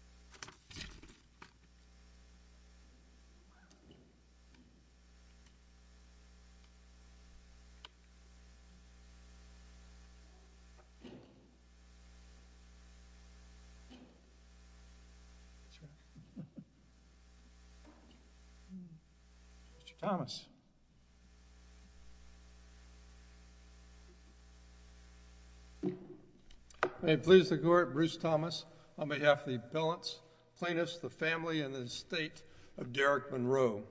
County and the state of Derrick Monroe.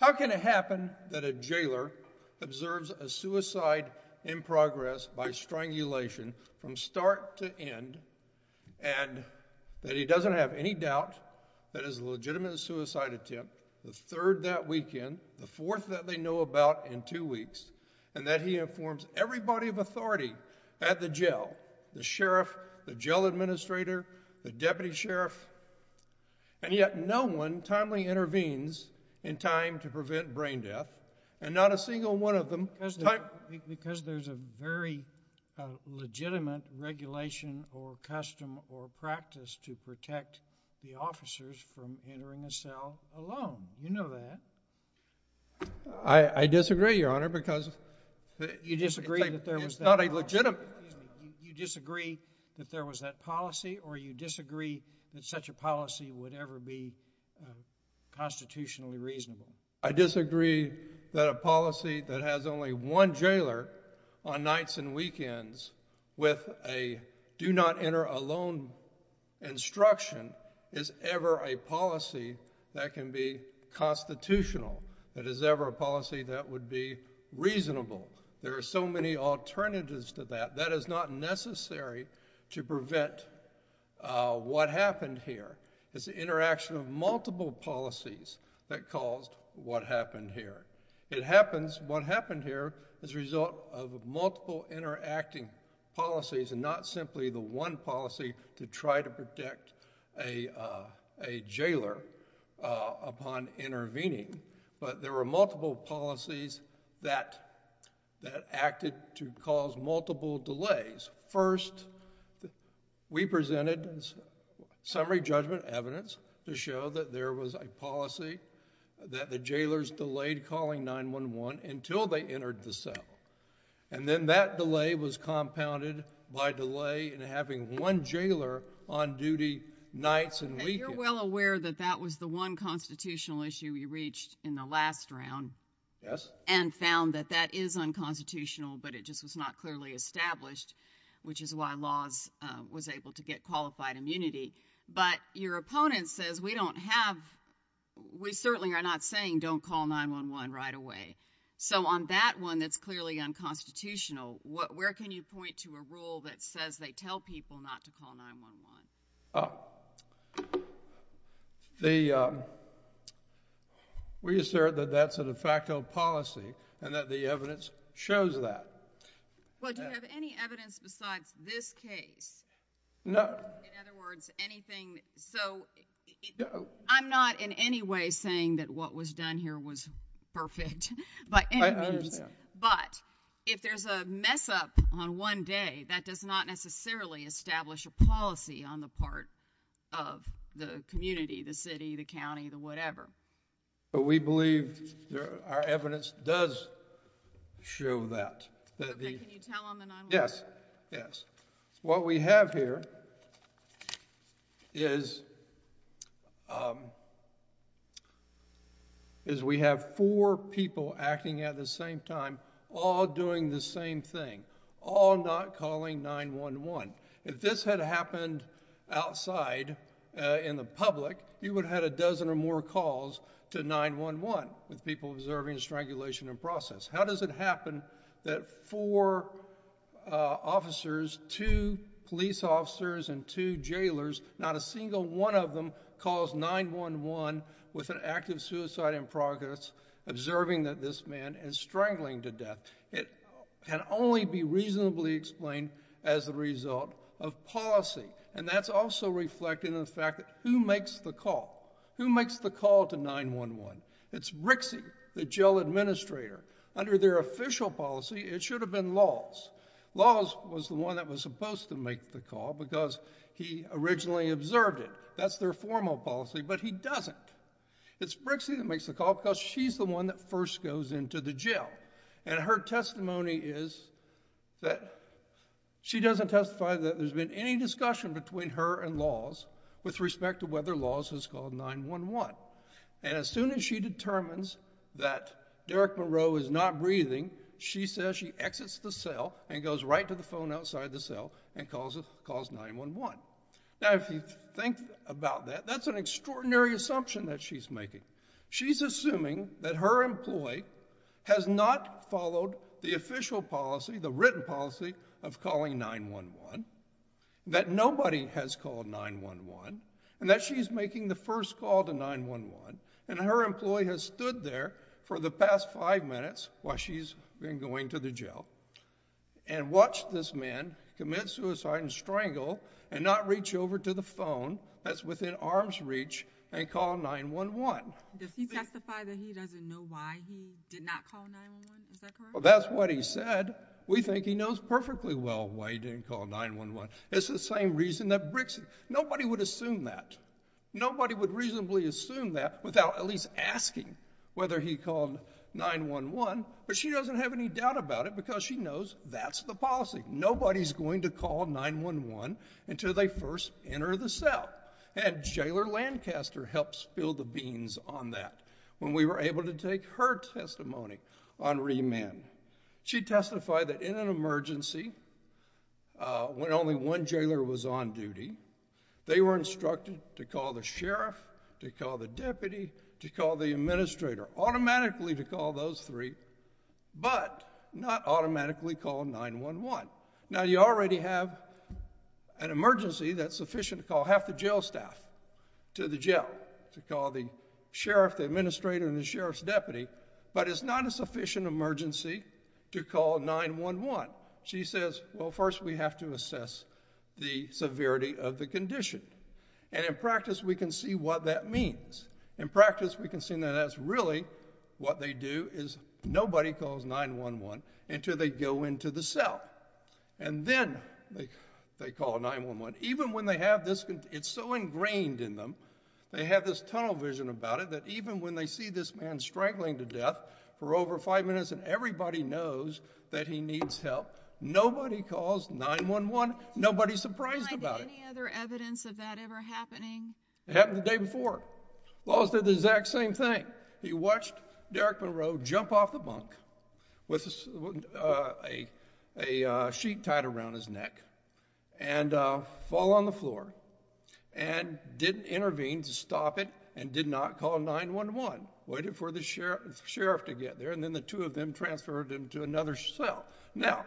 How can it happen that a jailer observes a suicide in progress by strangulation from start to end and that he doesn't have any doubt that it is a legitimate suicide attempt the third that weekend, the fourth that they know about in two weeks, and that he informs everybody of authority at the jail, the sheriff, the jail administrator, the deputy sheriff, and yet no one timely intervenes in time to prevent brain death, and not a single one of them. Because there's a very legitimate regulation or custom or practice to protect the officers from entering a cell alone, you know that. I disagree, Your Honor, because you disagree that there was not a legitimate you disagree that there was that policy or you disagree that such a policy would ever be constitutionally reasonable. I disagree that a policy that has only one jailer on nights and weekends with a do not enter alone instruction is ever a policy that can be constitutional that is ever a policy that would be reasonable. There are so many alternatives to that that is not necessary to prevent what happened here. It's the interaction of multiple policies that caused what happened here. It happens what happened here as a result of multiple interacting policies and not simply the one policy to try to protect a jailer upon intervening, but there were multiple policies that acted to cause multiple delays. First, we presented summary judgment evidence to show that there was a policy that the jailers delayed calling 911 until they entered the cell, and then that delay was compounded by a delay in having one jailer on duty nights and weekends. And you're well aware that that was the one constitutional issue we reached in the last round and found that that is unconstitutional, but it just was not clearly established, which is why laws was able to get qualified immunity. But your opponent says we don't have we certainly are not saying don't call 911 right away. So on that one, that's clearly unconstitutional. Where can you point to a rule that says they tell people not to call 911? The we assert that that's a de facto policy and that the evidence shows that. Well, do you have any evidence besides this case? No. In other words, anything so I'm not in any way saying that what was done here was perfect. But but if there's a mess up on one day, that does not necessarily establish a policy on the part of the community, the city, the county, the whatever. But we believe there are evidence does show that that can you tell them that? Yes. Yes. What we have here is is we have four people acting at the same time, all doing the same thing, all not calling 911. If this had happened outside in the public, you would have had a dozen or more calls to 911 with people observing strangulation and process. How does it happen that four officers, two police officers and two jailers, not a single one of them calls 911 with an active suicide in progress, observing that this man is strangling to death? It can only be reasonably explained as a result of policy. And that's also reflected in the fact that who makes the call? Who makes the call to 911? It's Rixey, the jail administrator. Under their official policy, it should have been Laws. Laws was the one that was supposed to make the call because he originally observed it. That's their formal policy. But he doesn't. It's Rixey that makes the call because she's the one that first goes into the jail. And her testimony is that she doesn't testify that there's been any discussion between her and Laws with respect to whether Laws has called 911. And as soon as she determines that Derek Monroe is not breathing, she says she exits the cell and goes right to the phone outside the cell and calls 911. Now, if you think about that, that's an extraordinary assumption that she's making. She's assuming that her employee has not followed the official policy, the written policy of calling 911, that nobody has called 911, and that she's making the first call to 911. And her employee has stood there for the past five minutes while she's been going to the jail and watched this man commit suicide and strangle and not reach over to the phone that's within arm's reach and call 911. Does he testify that he doesn't know why he did not call 911? Is that correct? Well, that's what he said. We think he knows perfectly well why he didn't call 911. It's the same reason that Brixen—nobody would assume that. Nobody would reasonably assume that without at least asking whether he called 911, but she doesn't have any doubt about it because she knows that's the policy. Nobody's going to call 911 until they first enter the cell. And Jailer Lancaster helps fill the beans on that when we were able to take her testimony on remand. She testified that in an emergency, when only one jailer was on duty, they were instructed to call the sheriff, to call the deputy, to call the administrator, automatically to call those three, but not automatically call 911. Now you already have an emergency that's sufficient to call half the jail staff to the jail, to call the sheriff, the administrator, and the sheriff's deputy, but it's not a sufficient emergency to call 911. She says, well, first we have to assess the severity of the condition, and in practice we can see what that means. In practice we can see that that's really what they do is nobody calls 911 until they go into the cell, and then they call 911. Even when they have this—it's so ingrained in them, they have this tunnel vision about it, that even when they see this man strangling to death for over five minutes and everybody knows that he needs help, nobody calls 911. Nobody's surprised about it. Did you find any other evidence of that ever happening? It happened the day before. Laws did the exact same thing. He watched Derrick Monroe jump off the bunk with a sheet tied around his neck and fall on the floor, and didn't intervene to stop it, and did not call 911, waited for the sheriff to get there, and then the two of them transferred him to another cell. Now,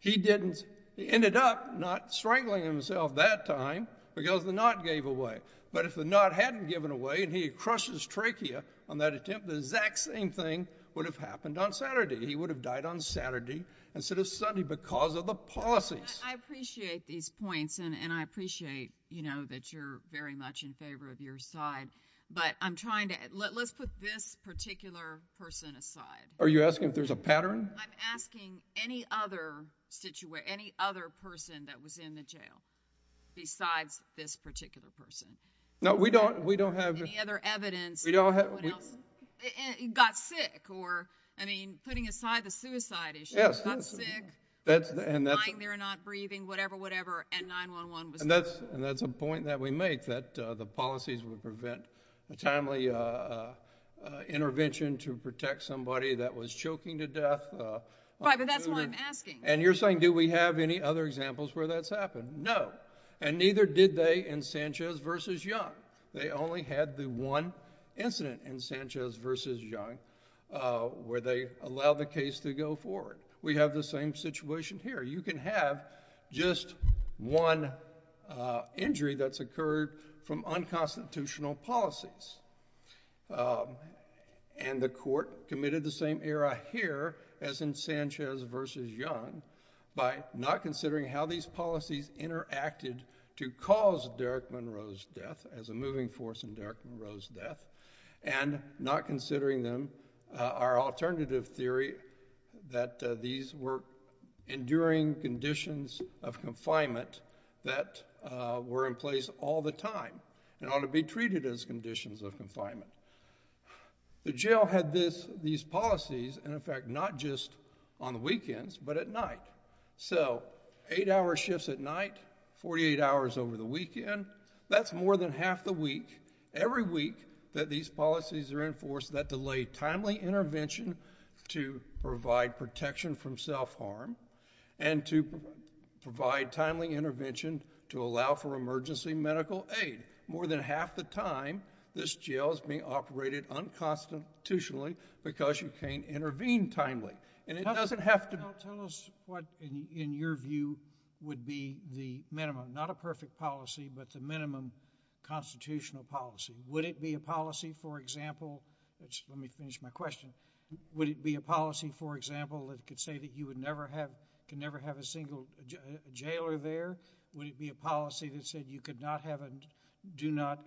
he didn't—he ended up not strangling himself that time because the knot gave away, but if the knot hadn't given away and he had crushed his trachea on that attempt, the exact same thing would have happened on Saturday. He would have died on Saturday instead of Sunday because of the policies. I appreciate these points, and I appreciate, you know, that you're very much in favor of your side, but I'm trying to—let's put this particular person aside. Are you asking if there's a pattern? I'm asking any other person that was in the jail besides this particular person. No, we don't have— Any other evidence that someone else—got sick, or, I mean, putting aside the suicide issue, not sick, lying there, not breathing, whatever, whatever, and 911 was called. And that's a point that we make, that the policies would prevent a timely intervention to protect somebody that was choking to death. Right, but that's why I'm asking. And you're saying, do we have any other examples where that's happened? No, and neither did they in Sanchez v. Young. They only had the one incident in Sanchez v. Young where they allowed the case to go forward. We have the same situation here. You can have just one injury that's occurred from unconstitutional policies, and the court committed the same error here as in Sanchez v. Young by not considering how these policies interacted to cause Derek Monroe's death, as a moving force in Derek Monroe's death, and not considering them, our alternative theory, that these were enduring conditions of confinement that were in place all the time and ought to be treated as conditions of confinement. The jail had these policies, and in fact, not just on the weekends, but at night. So eight-hour shifts at night, 48 hours over the weekend, that's more than half the week. Every week that these policies are enforced, that delay timely intervention to provide protection from self-harm and to provide timely intervention to allow for emergency medical aid. More than half the time, this jail is being operated unconstitutionally because you can't intervene timely. It doesn't have to... Well, tell us what, in your view, would be the minimum. Not a perfect policy, but the minimum constitutional policy. Would it be a policy, for example... Let me finish my question. Would it be a policy, for example, that could say that you can never have a single jailer there? Would it be a policy that said you do not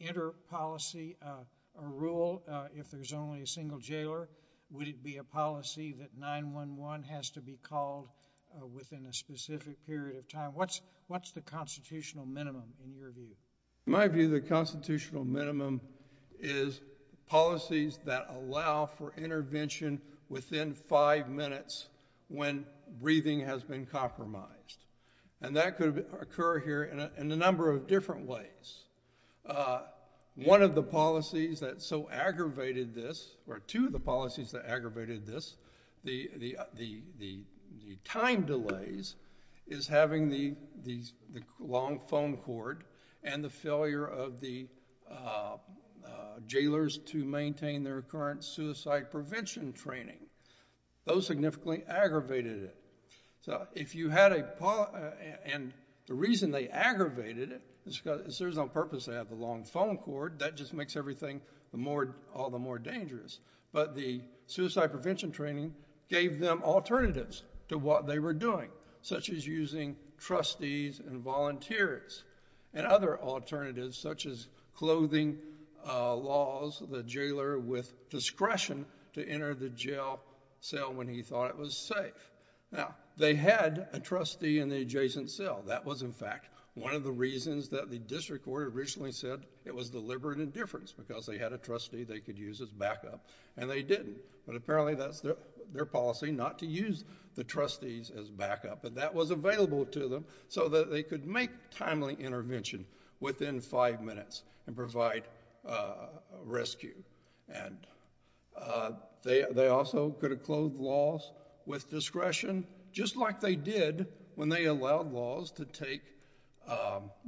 enter policy or rule if there's only a single jailer? Would it be a policy that 911 has to be called within a specific period of time? What's the constitutional minimum, in your view? In my view, the constitutional minimum is policies that allow for intervention within five minutes when breathing has been compromised. And that could occur here in a number of different ways. One of the policies that so aggravated this, or two of the policies that aggravated this, the time delays is having the long phone cord and the failure of the jailers to maintain their current suicide prevention training. Those significantly aggravated it. If you had a... And the reason they aggravated it is because it serves no purpose to have the long phone cord. That just makes everything all the more dangerous. But the suicide prevention training gave them alternatives to what they were doing, such as using trustees and volunteers and other alternatives, such as clothing laws, the jailer with discretion to enter the jail cell when he thought it was safe. Now, they had a trustee in the adjacent cell. That was, in fact, one of the reasons that the district court originally said it was deliberate indifference, because they had a trustee they could use as backup. And they didn't. But apparently that's their policy, not to use the trustees as backup. But that was available to them so that they could make timely intervention within five minutes and provide rescue. And they also could have clothed laws with discretion, just like they did when they allowed laws to take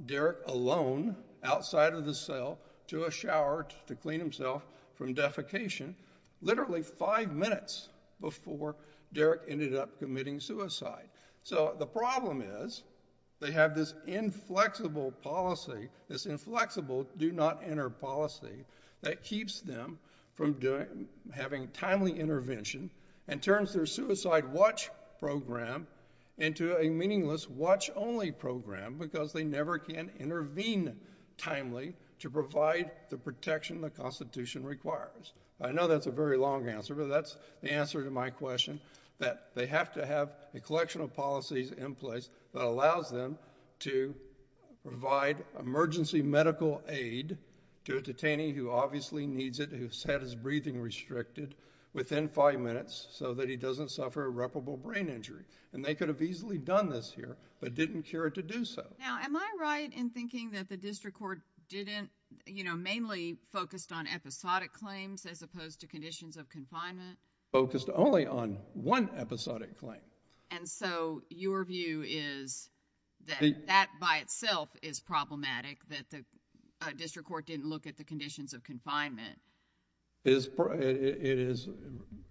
Derek alone outside of the cell to a shower to clean himself from defecation, literally five minutes before Derek ended up committing suicide. So the problem is they have this inflexible policy, this inflexible do not enter policy, that keeps them from having timely intervention and turns their suicide watch program into a meaningless watch-only program, because they never can intervene timely to provide the protection the Constitution requires. I know that's a very long answer, but that's the answer to my question, that they have to have a collection of policies in place that allows them to provide emergency medical aid to a detainee who obviously needs it, who's had his breathing restricted within five minutes so that he doesn't suffer irreparable brain injury. And they could have easily done this here, but didn't care to do so. Now, am I right in thinking that the district court didn't, you know, mainly focused on episodic claims as opposed to conditions of confinement? Focused only on one episodic claim. And so your view is that that by itself is problematic, that the district court didn't look at the conditions of confinement. It is,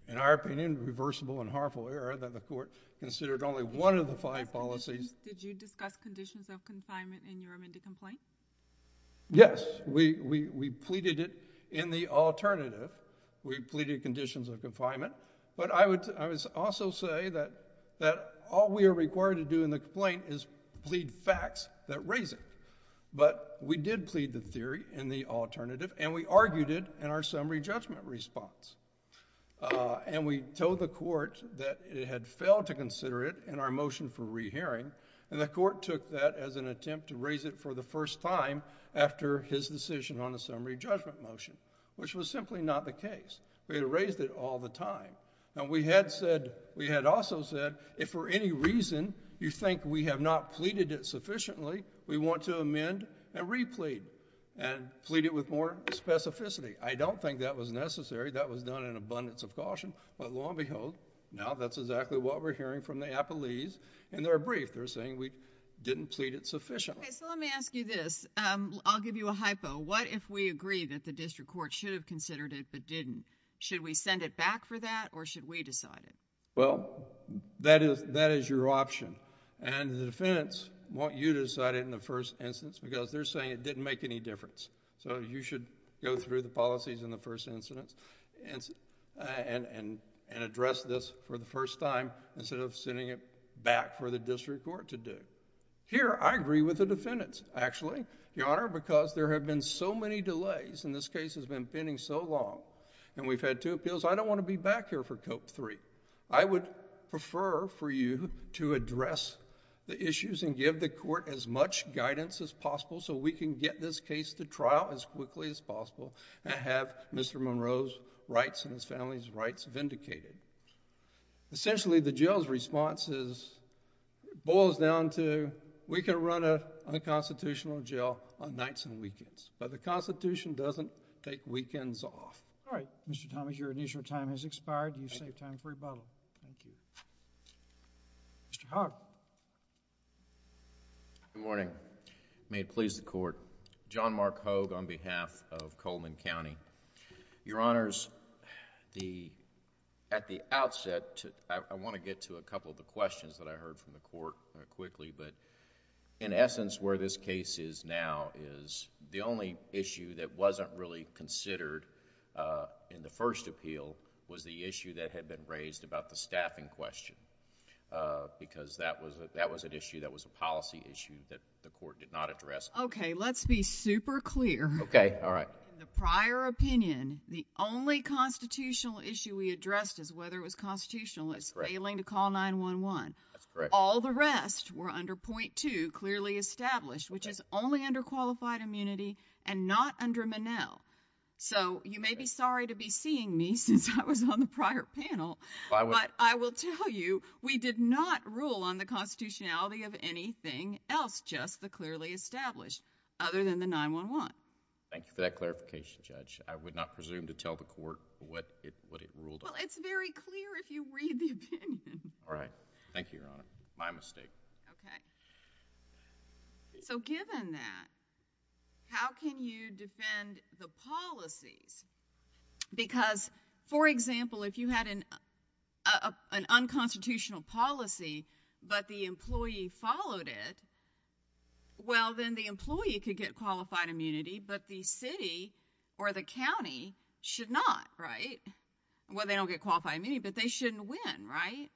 in our opinion, reversible and harmful error that the court considered only one of the five policies. Did you discuss conditions of confinement in your amended complaint? Yes. We pleaded it in the alternative. We pleaded conditions of confinement. But I would also say that all we are required to do in the complaint is plead facts that raise it. But we did plead the theory in the alternative, and we argued it in our summary judgment response. And we told the court that it had failed to consider it in our motion for rehearing, and the court took that as an attempt to raise it for the first time after his decision on a summary judgment motion, which was simply not the case. We had raised it all the time. And we had said, we had also said, if for any reason you think we have not pleaded it sufficiently, we want to amend and replead and plead it with more specificity. I don't think that was necessary. That was not an abundance of caution. But lo and behold, now that's exactly what we're hearing from the appellees in their brief. They're saying we didn't plead it sufficiently. So let me ask you this. I'll give you a hypo. What if we agree that the district court should have considered it but didn't? Should we send it back for that, or should we decide it? Well, that is your option. And the defendants want you to decide it in the first instance because they're saying it didn't make any difference. So you should go through the policies in the first instance and address this for the first time instead of sending it back for the district court to do. Here, I agree with the defendants, actually, Your Honor, because there have been so many delays and this case has been pending so long. And we've had two appeals. I don't want to be back here for Cope III. I would prefer for you to address the issues and give the court as much guidance as possible so we can get this case to trial as quickly as possible and have Mr. Monroe's rights and his family's rights vindicated. Essentially, the jail's response boils down to, we can run a constitutional jail on nights and weekends, but the Constitution doesn't take weekends off. All right. Mr. Thomas, your initial time has expired. You save time for rebuttal. Thank you. Mr. Hogg. Good morning. May it please the Court. John Mark Hogg on behalf of Coleman County. Your Honors, at the outset, I want to get to a couple of the questions that I heard from the Court quickly, but in essence, where this case is now is the only issue that wasn't really considered in the first appeal was the issue that had been raised about the staffing question, because that was an issue that was a policy issue that the Court did not address. Okay. Let's be super clear. Okay. All right. In the prior opinion, the only constitutional issue we addressed as whether it was constitutional is failing to call 911. All the rest were under point two, clearly established, which is only under qualified immunity and not under Monell. So you may be sorry to be seeing me since I was on the prior panel, but I will tell you, we did not rule on the constitutionality of anything else, just the clearly established other than the 911. That's all I want. Thank you for that clarification, Judge. I would not presume to tell the Court what it ruled on. Well, it's very clear if you read the opinion. All right. Thank you, Your Honor. My mistake. Okay. So given that, how can you defend the policies? Because for example, if you had an unconstitutional policy, but the employee followed it, well, then the employee could get qualified immunity, but the city or the county should not, right? Well, they don't get qualified immunity, but they shouldn't win, right?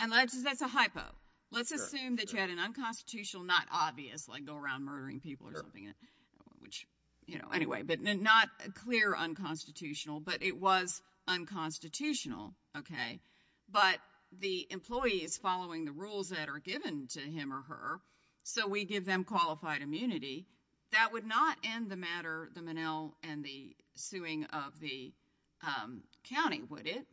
And that's a hypo. Let's assume that you had an unconstitutional, not obvious, like go around murdering people or something, which, you know, anyway, but not a clear unconstitutional, but it was unconstitutional. Okay. But the employee is following the rules that are given to him or her. So we give them qualified immunity. That would not end the matter, the Monell and the suing of the county, would it?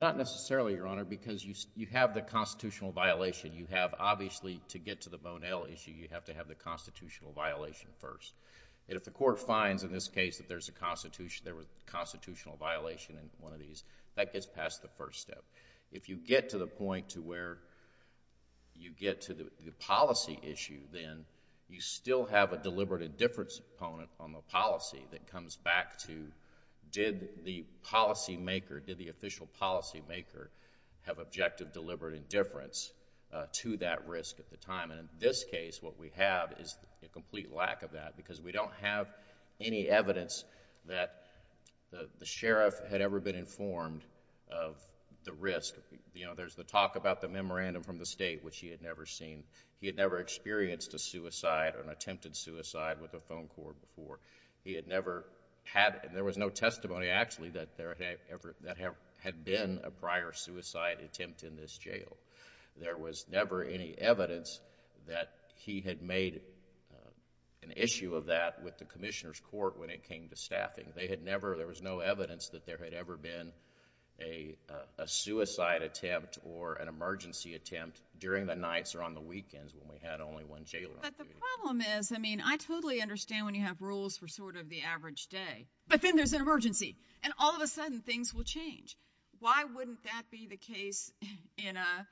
Not necessarily, Your Honor, because you have the constitutional violation. You have, obviously, to get to the Monell issue, you have to have the constitutional violation first. And if the Court finds in this case that there's a constitutional, there was a constitutional violation in one of these, that gets past the first step. If you get to the point to where you get to the policy issue, then you still have a deliberate indifference component on the policy that comes back to, did the policymaker, did the official policymaker have objective deliberate indifference to that risk at the time? And in this case, what we have is a complete lack of that, because we don't have any informed of the risk. There's the talk about the memorandum from the state, which he had never seen. He had never experienced a suicide or an attempted suicide with a phone cord before. He had never had, and there was no testimony, actually, that there had been a prior suicide attempt in this jail. There was never any evidence that he had made an issue of that with the Commissioner's Court when it came to staffing. They had never, there was no evidence that there had ever been a suicide attempt or an emergency attempt during the nights or on the weekends when we had only one jailor. But the problem is, I mean, I totally understand when you have rules for sort of the average day. But then there's an emergency, and all of a sudden things will change. Why wouldn't that be the case in a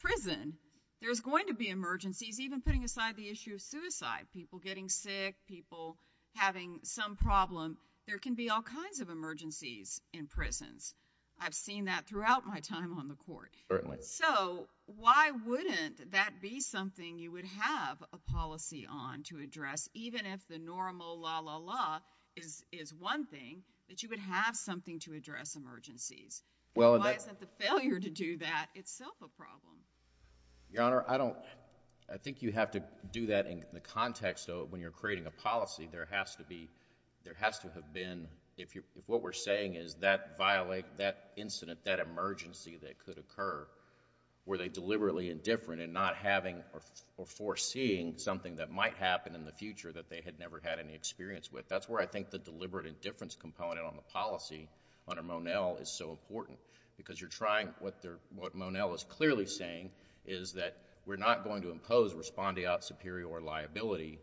prison? There's going to be emergencies, even putting aside the issue of suicide. People getting sick, people having some problem. There can be all kinds of emergencies in prisons. I've seen that throughout my time on the Court. Certainly. So why wouldn't that be something you would have a policy on to address, even if the normal la, la, la is one thing, that you would have something to address Why isn't the failure to do that itself a problem? Your Honor, I don't, I think you have to do that in the context of when you're creating a policy. There has to be, there has to have been, if what we're saying is that violate, that incident, that emergency that could occur, were they deliberately indifferent in not having or foreseeing something that might happen in the future that they had never had any experience with. That's where I think the deliberate indifference component on the policy under Monell is so important. Because you're trying, what they're, what Monell is clearly saying is that we're not going to impose respondeat superior liability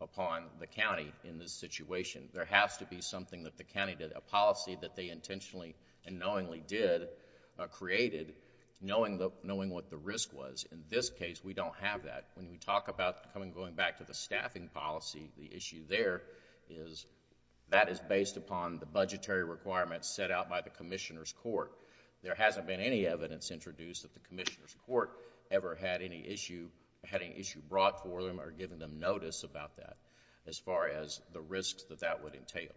upon the county in this situation. There has to be something that the county did, a policy that they intentionally and knowingly did, created, knowing the, knowing what the risk was. In this case, we don't have that. When we talk about going back to the staffing policy, the issue there is that is based upon the budgetary requirements set out by the Commissioner's Court. There hasn't been any evidence introduced that the Commissioner's Court ever had any issue, had any issue brought for them or given them notice about that as far as the risks that that would entail.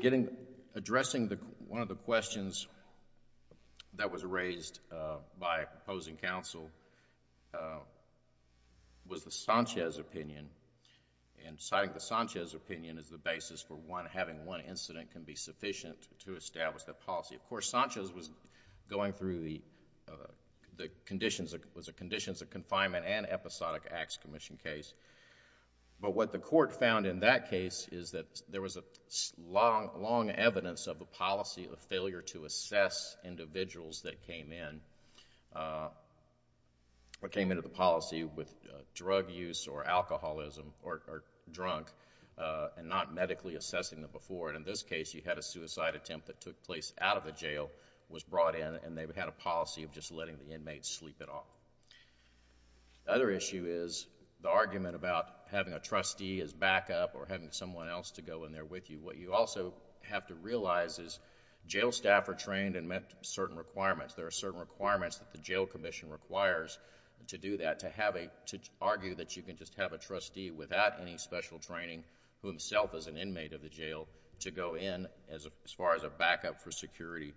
Getting, addressing the, one of the questions that was raised by a proposing counsel was the Sanchez opinion and citing the Sanchez opinion as the basis for one, having one incident can be sufficient to establish that policy. Of course, Sanchez was going through the conditions, it was a conditions of confinement and episodic acts commission case, but what the court found in that case is that there was a long, long evidence of the policy of failure to assess individuals that came in, that came into the jail, and not medically assessing them before, and in this case, you had a suicide attempt that took place out of the jail, was brought in, and they had a policy of just letting the inmates sleep it off. The other issue is the argument about having a trustee as backup or having someone else to go in there with you. What you also have to realize is jail staff are trained and met certain requirements. There are certain requirements that the jail commission requires to do that, to have a, to argue that you can just have a trustee without any special training, who himself is an inmate of the jail, to go in as far as a backup for security,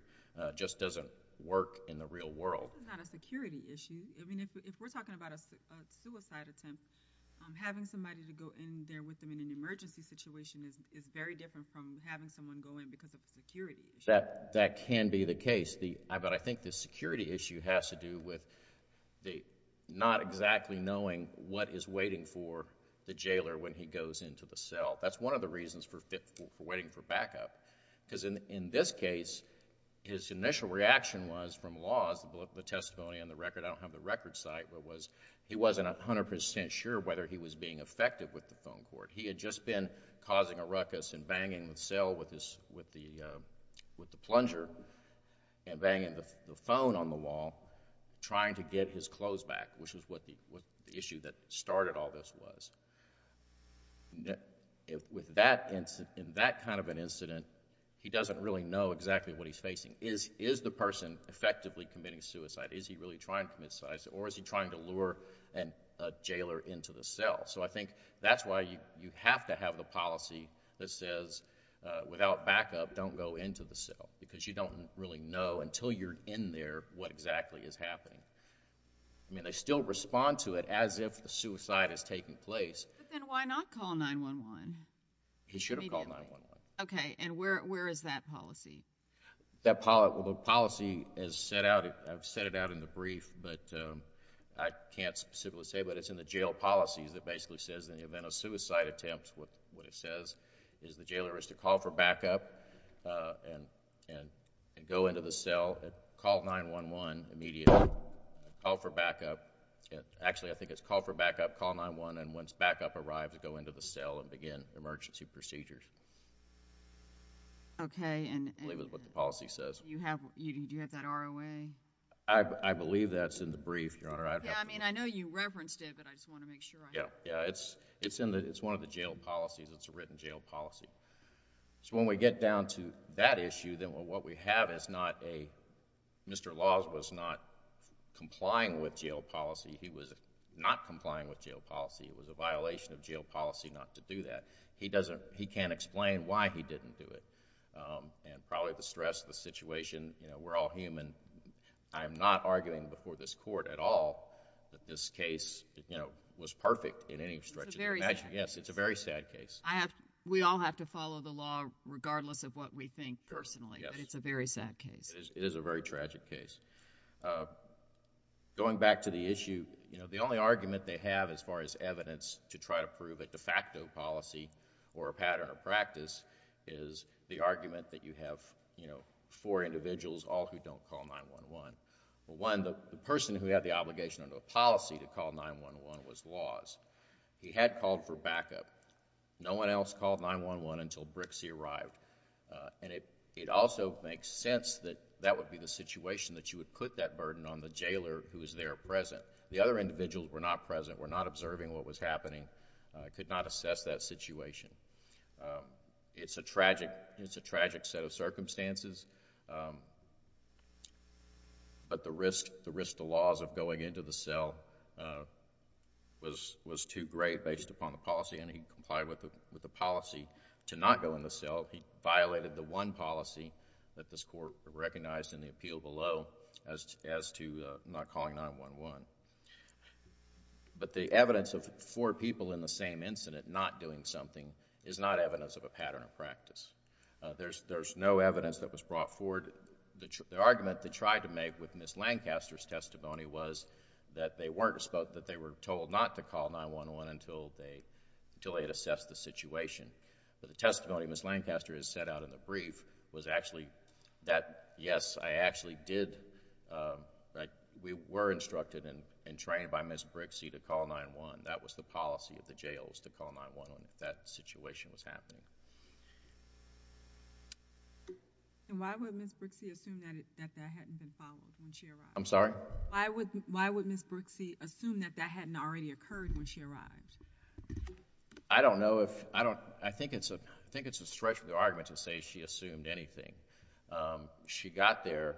just doesn't work in the real world. This is not a security issue. If we're talking about a suicide attempt, having somebody to go in there with them in an emergency situation is very different from having someone go in because of a security issue. That can be the case, but I think the security issue has to do with not exactly knowing what is waiting for the jailer when he goes into the cell. That's one of the reasons for waiting for backup because in this case, his initial reaction was from laws, the testimony on the record, I don't have the record site, but was he wasn't a hundred percent sure whether he was being effective with the phone cord. He had just been causing a ruckus and banging the cell with the plunger and the phone on the wall, trying to get his clothes back, which was what the issue that started all this was. With that kind of an incident, he doesn't really know exactly what he's facing. Is the person effectively committing suicide? Is he really trying to commit suicide or is he trying to lure a jailer into the cell? I think that's why you have to have the policy that says, without backup, don't go into the cell because you don't really know until you're in there what exactly is happening. They still respond to it as if the suicide is taking place. Then why not call 9-1-1? He should have called 9-1-1. Okay. Where is that policy? The policy is set out, I've set it out in the brief, but I can't specifically say, but it's in the jail policies that basically says in the case of a suicide attempt, what it says is the jailer is to call for backup and go into the cell, call 9-1-1 immediately, call for backup. Actually, I think it's call for backup, call 9-1-1, and once backup arrives, go into the cell and begin emergency procedures. Okay. I believe that's what the policy says. Do you have that ROA? I believe that's in the brief, Your Honor. I mean, I know you referenced it, but I just want to make sure I have it. Yeah. It's one of the jail policies. It's a written jail policy. When we get down to that issue, then what we have is not a... Mr. Laws was not complying with jail policy. He was not complying with jail policy. It was a violation of jail policy not to do that. He can't explain why he didn't do it. Probably the stress, the situation, we're all human. I'm not arguing before this Court at all that this case was perfect in any stretch of the... It's a very sad case. Yes. It's a very sad case. We all have to follow the law regardless of what we think personally, but it's a very sad case. It is a very tragic case. Going back to the issue, the only argument they have as far as evidence to try to prove a de facto policy or a pattern of practice is the argument that you have four individuals, all who don't call 911. One, the person who had the obligation under the policy to call 911 was Laws. He had called for backup. No one else called 911 until Brixie arrived. It also makes sense that that would be the situation that you would put that burden on the jailer who was there present. The other individuals were not present, were not observing what was happening, could not assess that situation. It's a tragic set of circumstances, but the risk to laws of going into the cell was too great based upon the policy, and he complied with the policy to not go in the cell. He violated the one policy that this Court recognized in the appeal below as to not calling 911. The evidence of four people in the same incident not doing something is not evidence of a pattern of practice. There's no evidence that was brought forward. The argument they tried to make with Ms. Lancaster's testimony was that they were told not to call 911 until they had assessed the situation. The testimony Ms. Lancaster has set out in the brief was actually that, yes, I actually did... we were instructed and trained by Ms. Brixie to call 911. That was the policy of the jails to call 911 if that situation was happening. Why would Ms. Brixie assume that that hadn't been followed when she arrived? I'm sorry? Why would Ms. Brixie assume that that hadn't already occurred when she arrived? I don't know. I think it's a stretch of the argument to say she assumed anything. She got there,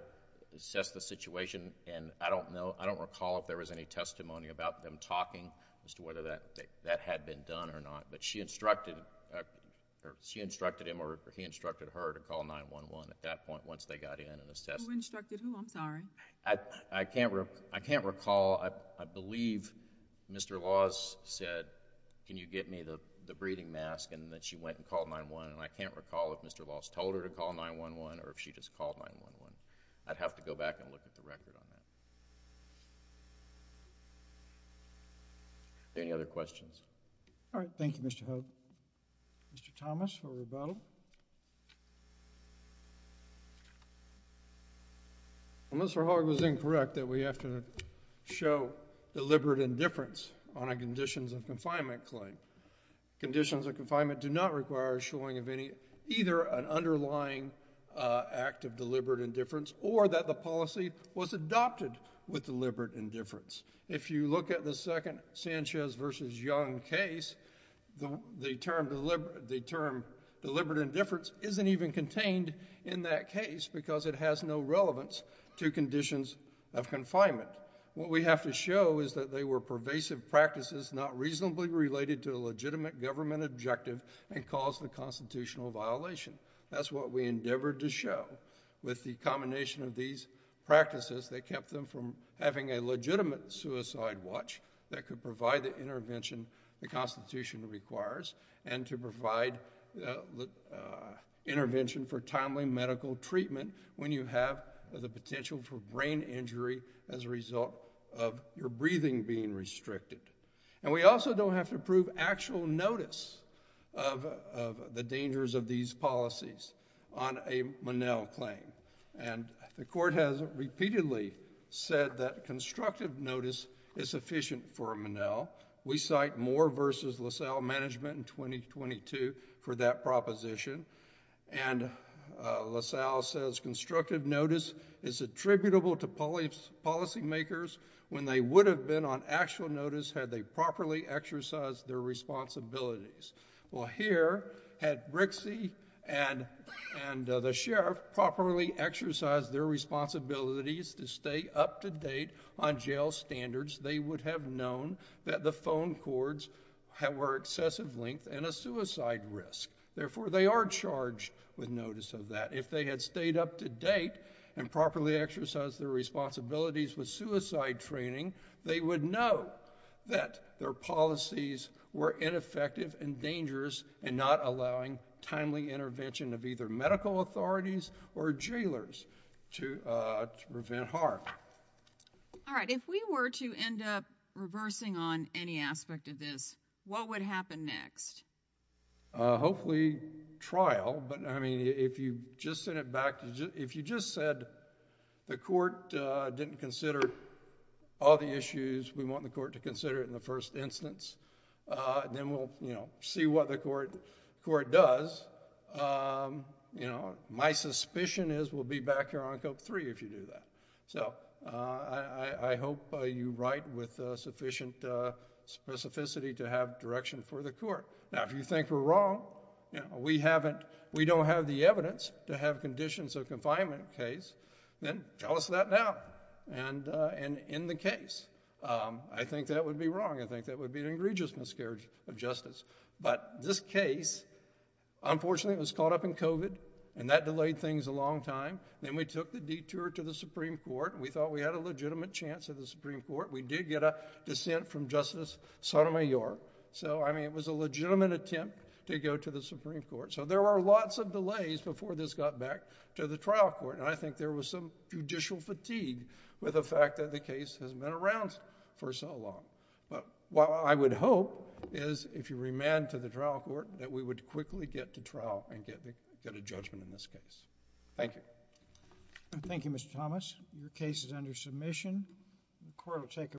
assessed the situation, and I don't know... I don't recall if there was any testimony about them talking as to whether that had been done or not. But she instructed him or he instructed her to call 911 at that point once they got in and assessed... Who instructed who? I'm sorry. I can't recall. I believe Mr. Laws said, can you get me the breathing mask? And then she went and called 911. And I can't recall if Mr. Laws told her to call 911 or if she just called 911. I'd have to go back and look at the record on that. Are there any other questions? All right. Thank you, Mr. Hogg. Mr. Thomas for rebuttal. Mr. Hogg was incorrect that we have to show deliberate indifference on a conditions of confinement claim. Conditions of confinement do not require showing of either an underlying act of deliberate indifference or that the policy was adopted with deliberate indifference. If you look at the second Sanchez v. Young case, the term deliberate indifference isn't even contained in that case because it has no relevance to conditions of confinement. What we have to show is that they were pervasive practices not reasonably related to a legitimate government objective and caused a constitutional violation. That's what we endeavored to show. With the combination of these practices that kept them from having a legitimate suicide watch that could provide the intervention the Constitution requires and to provide intervention for timely medical treatment when you have the potential for brain injury as a result of your breathing being restricted. We also don't have to prove actual notice of the dangers of these policies on a Monell claim. The court has repeatedly said that constructive notice is sufficient for Monell. We cite Moore v. LaSalle Management in 2022 for that proposition. LaSalle says constructive notice is attributable to policy makers when they would have been on actual notice had they properly exercised their responsibilities. Here, had Brixey and the sheriff properly exercised their responsibilities to stay up to date on jail standards, they would have known that the phone cords were excessive length and a suicide risk. Therefore, they are charged with notice of that. If they had stayed up to date and properly exercised their responsibilities, they would know that their policies were ineffective and dangerous in not allowing timely intervention of either medical authorities or jailers to prevent harm. All right. If we were to end up reversing on any aspect of this, what would happen next? Hopefully trial. But, I mean, if you just sent it back, if you just said the court didn't consider all the issues, we want the court to consider it in the first instance, then we'll, you know, see what the court does. You know, my suspicion is we'll be back here on Cope 3 if you do that. So, I hope you write with sufficient specificity to have direction for the court. Now, if you think we're wrong, you know, we don't have the evidence to have done that. And in the case, I think that would be wrong. I think that would be an egregious miscarriage of justice. But this case, unfortunately, was caught up in COVID and that delayed things a long time. Then we took the detour to the Supreme Court. We thought we had a legitimate chance at the Supreme Court. We did get a dissent from Justice Sotomayor. So, I mean, it was a legitimate attempt to go to the Supreme Court. So, there were lots of delays before this got back to the trial court. And I think there was some judicial fatigue with the fact that the case has been around for so long. But what I would hope is if you remand to the trial court, that we would quickly get to trial and get a judgment in this case. Thank you. Thank you, Mr. Thomas. Your case is under submission. The court will take a vote.